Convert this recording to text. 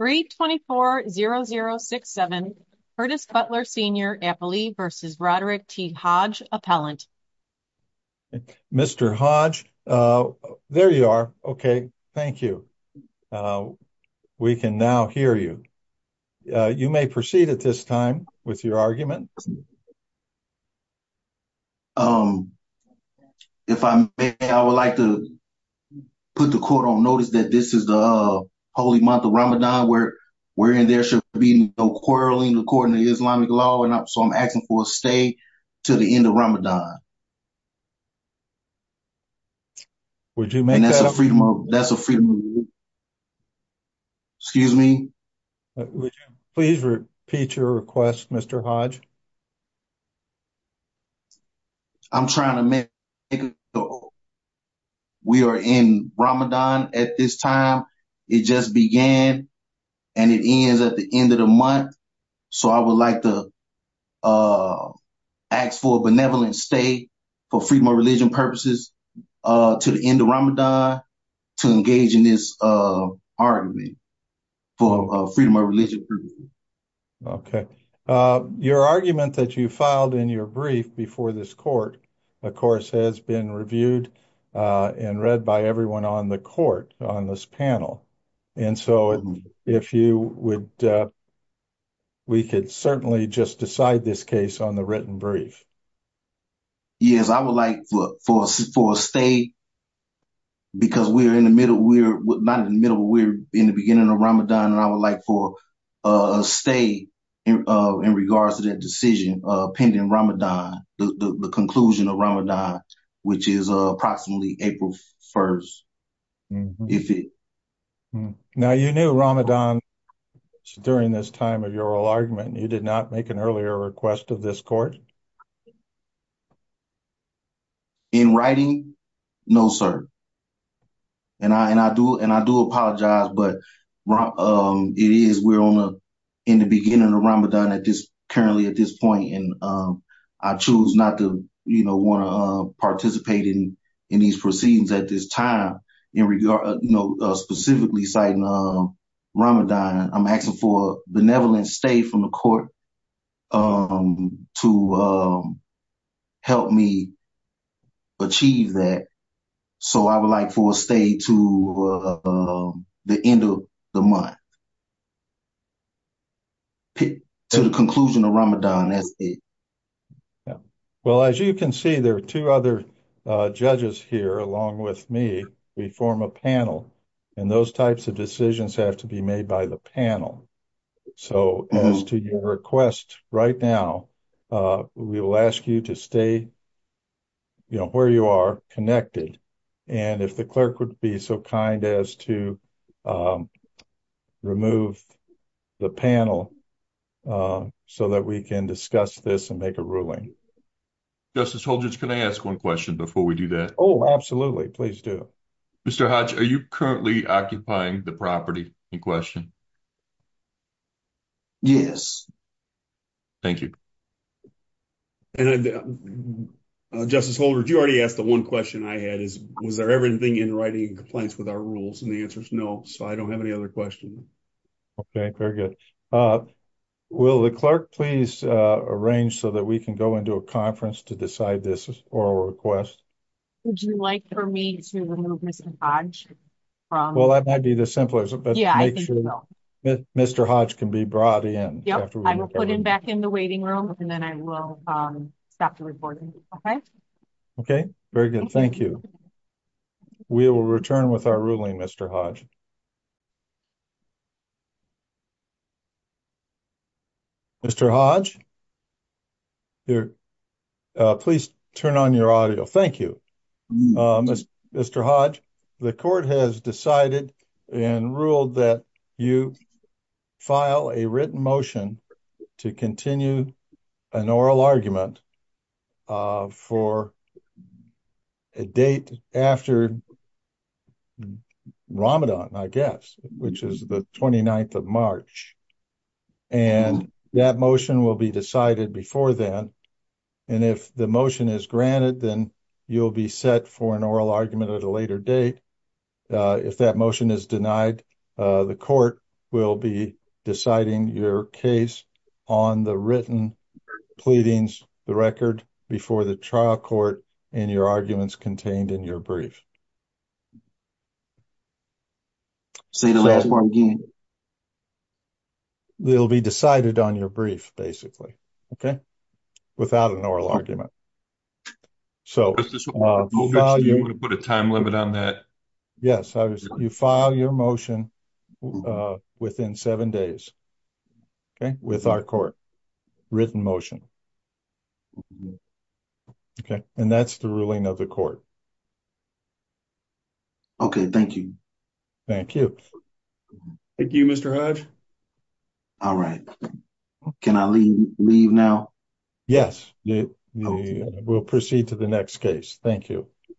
324-0067 Curtis Butler Sr. Appley v. Roderick T. Hodge Appellant Mr. Hodge, there you are. Okay, thank you. We can now hear you. You may proceed at this time with your argument. If I may, I would like to put the quote on notice that this is the holy month of Ramadan where we're in there should be no quarreling according to Islamic law and up so I'm asking for a stay to the end of Ramadan would you mean that's a freedom of that's a freedom excuse me please repeat your request mr. Hodge I'm trying to make we are in Ramadan at this time it just began and it is at the end of the month so I would like to ask for a benevolent state for freedom of religion purposes to the end of Ramadan to engage in this argument for freedom okay your argument that you filed in your brief before this court of course has been reviewed and read by everyone on the court on this panel and so if you would we could certainly just decide this case on the written brief yes I would like for support stay because we are in the middle we're not in the beginning of Ramadan and I would like for a stay in regards to that decision pending Ramadan the conclusion of Ramadan which is approximately April 1st if it now you knew Ramadan during this time of your argument you did not make an earlier request of this court in writing no sir and I and I do and I do apologize but it is we're on in the beginning of Ramadan at this currently at this point and I choose not to you know want to participate in in these proceedings at this time in regard no specifically citing Ramadan I'm asking for benevolent state from the court to help me achieve that so I would like for a stay to the end of the month to the conclusion of Ramadan as well as you can see there are two other judges here along with me we form a panel and those types of decisions have to be made by the panel so as to your request right now we will ask you to stay you know where you are connected and if the clerk would be so kind as to remove the panel so that we can discuss this and make a ruling justice hold just can I ask one question before we do that oh absolutely please do mr. Hodge are you currently occupying the property in question yes thank you and justice holder you already asked the one question I had is was there everything in writing complaints with our rules and the answer is no so I don't have any other question okay very good will the clerk please arrange so that we can go into a conference to decide this is or request would you like for me to remove mr. Hodge well I might be the simplest but yeah I know that mr. Hodge can be brought in yeah I will put him back in the waiting room and then I will stop to report okay okay very good thank you we will return with our ruling mr. Hodge mr. Hodge here please turn on your audio thank you mr. Hodge the court has decided and ruled that you file a written motion to continue an oral guess which is the 29th of March and that motion will be decided before then and if the motion is granted then you'll be set for an oral argument at a later date if that motion is denied the court will be deciding your case on the written pleadings the record before the trial court and your arguments contained in your brief say the last part again they'll be decided on your brief basically okay without an oral argument so put a time limit on that yes you file your motion within seven days okay with our court written motion okay and that's the ruling of the court okay thank you thank you thank you mr. Hodge all right can I leave now yes we'll proceed to the next case thank you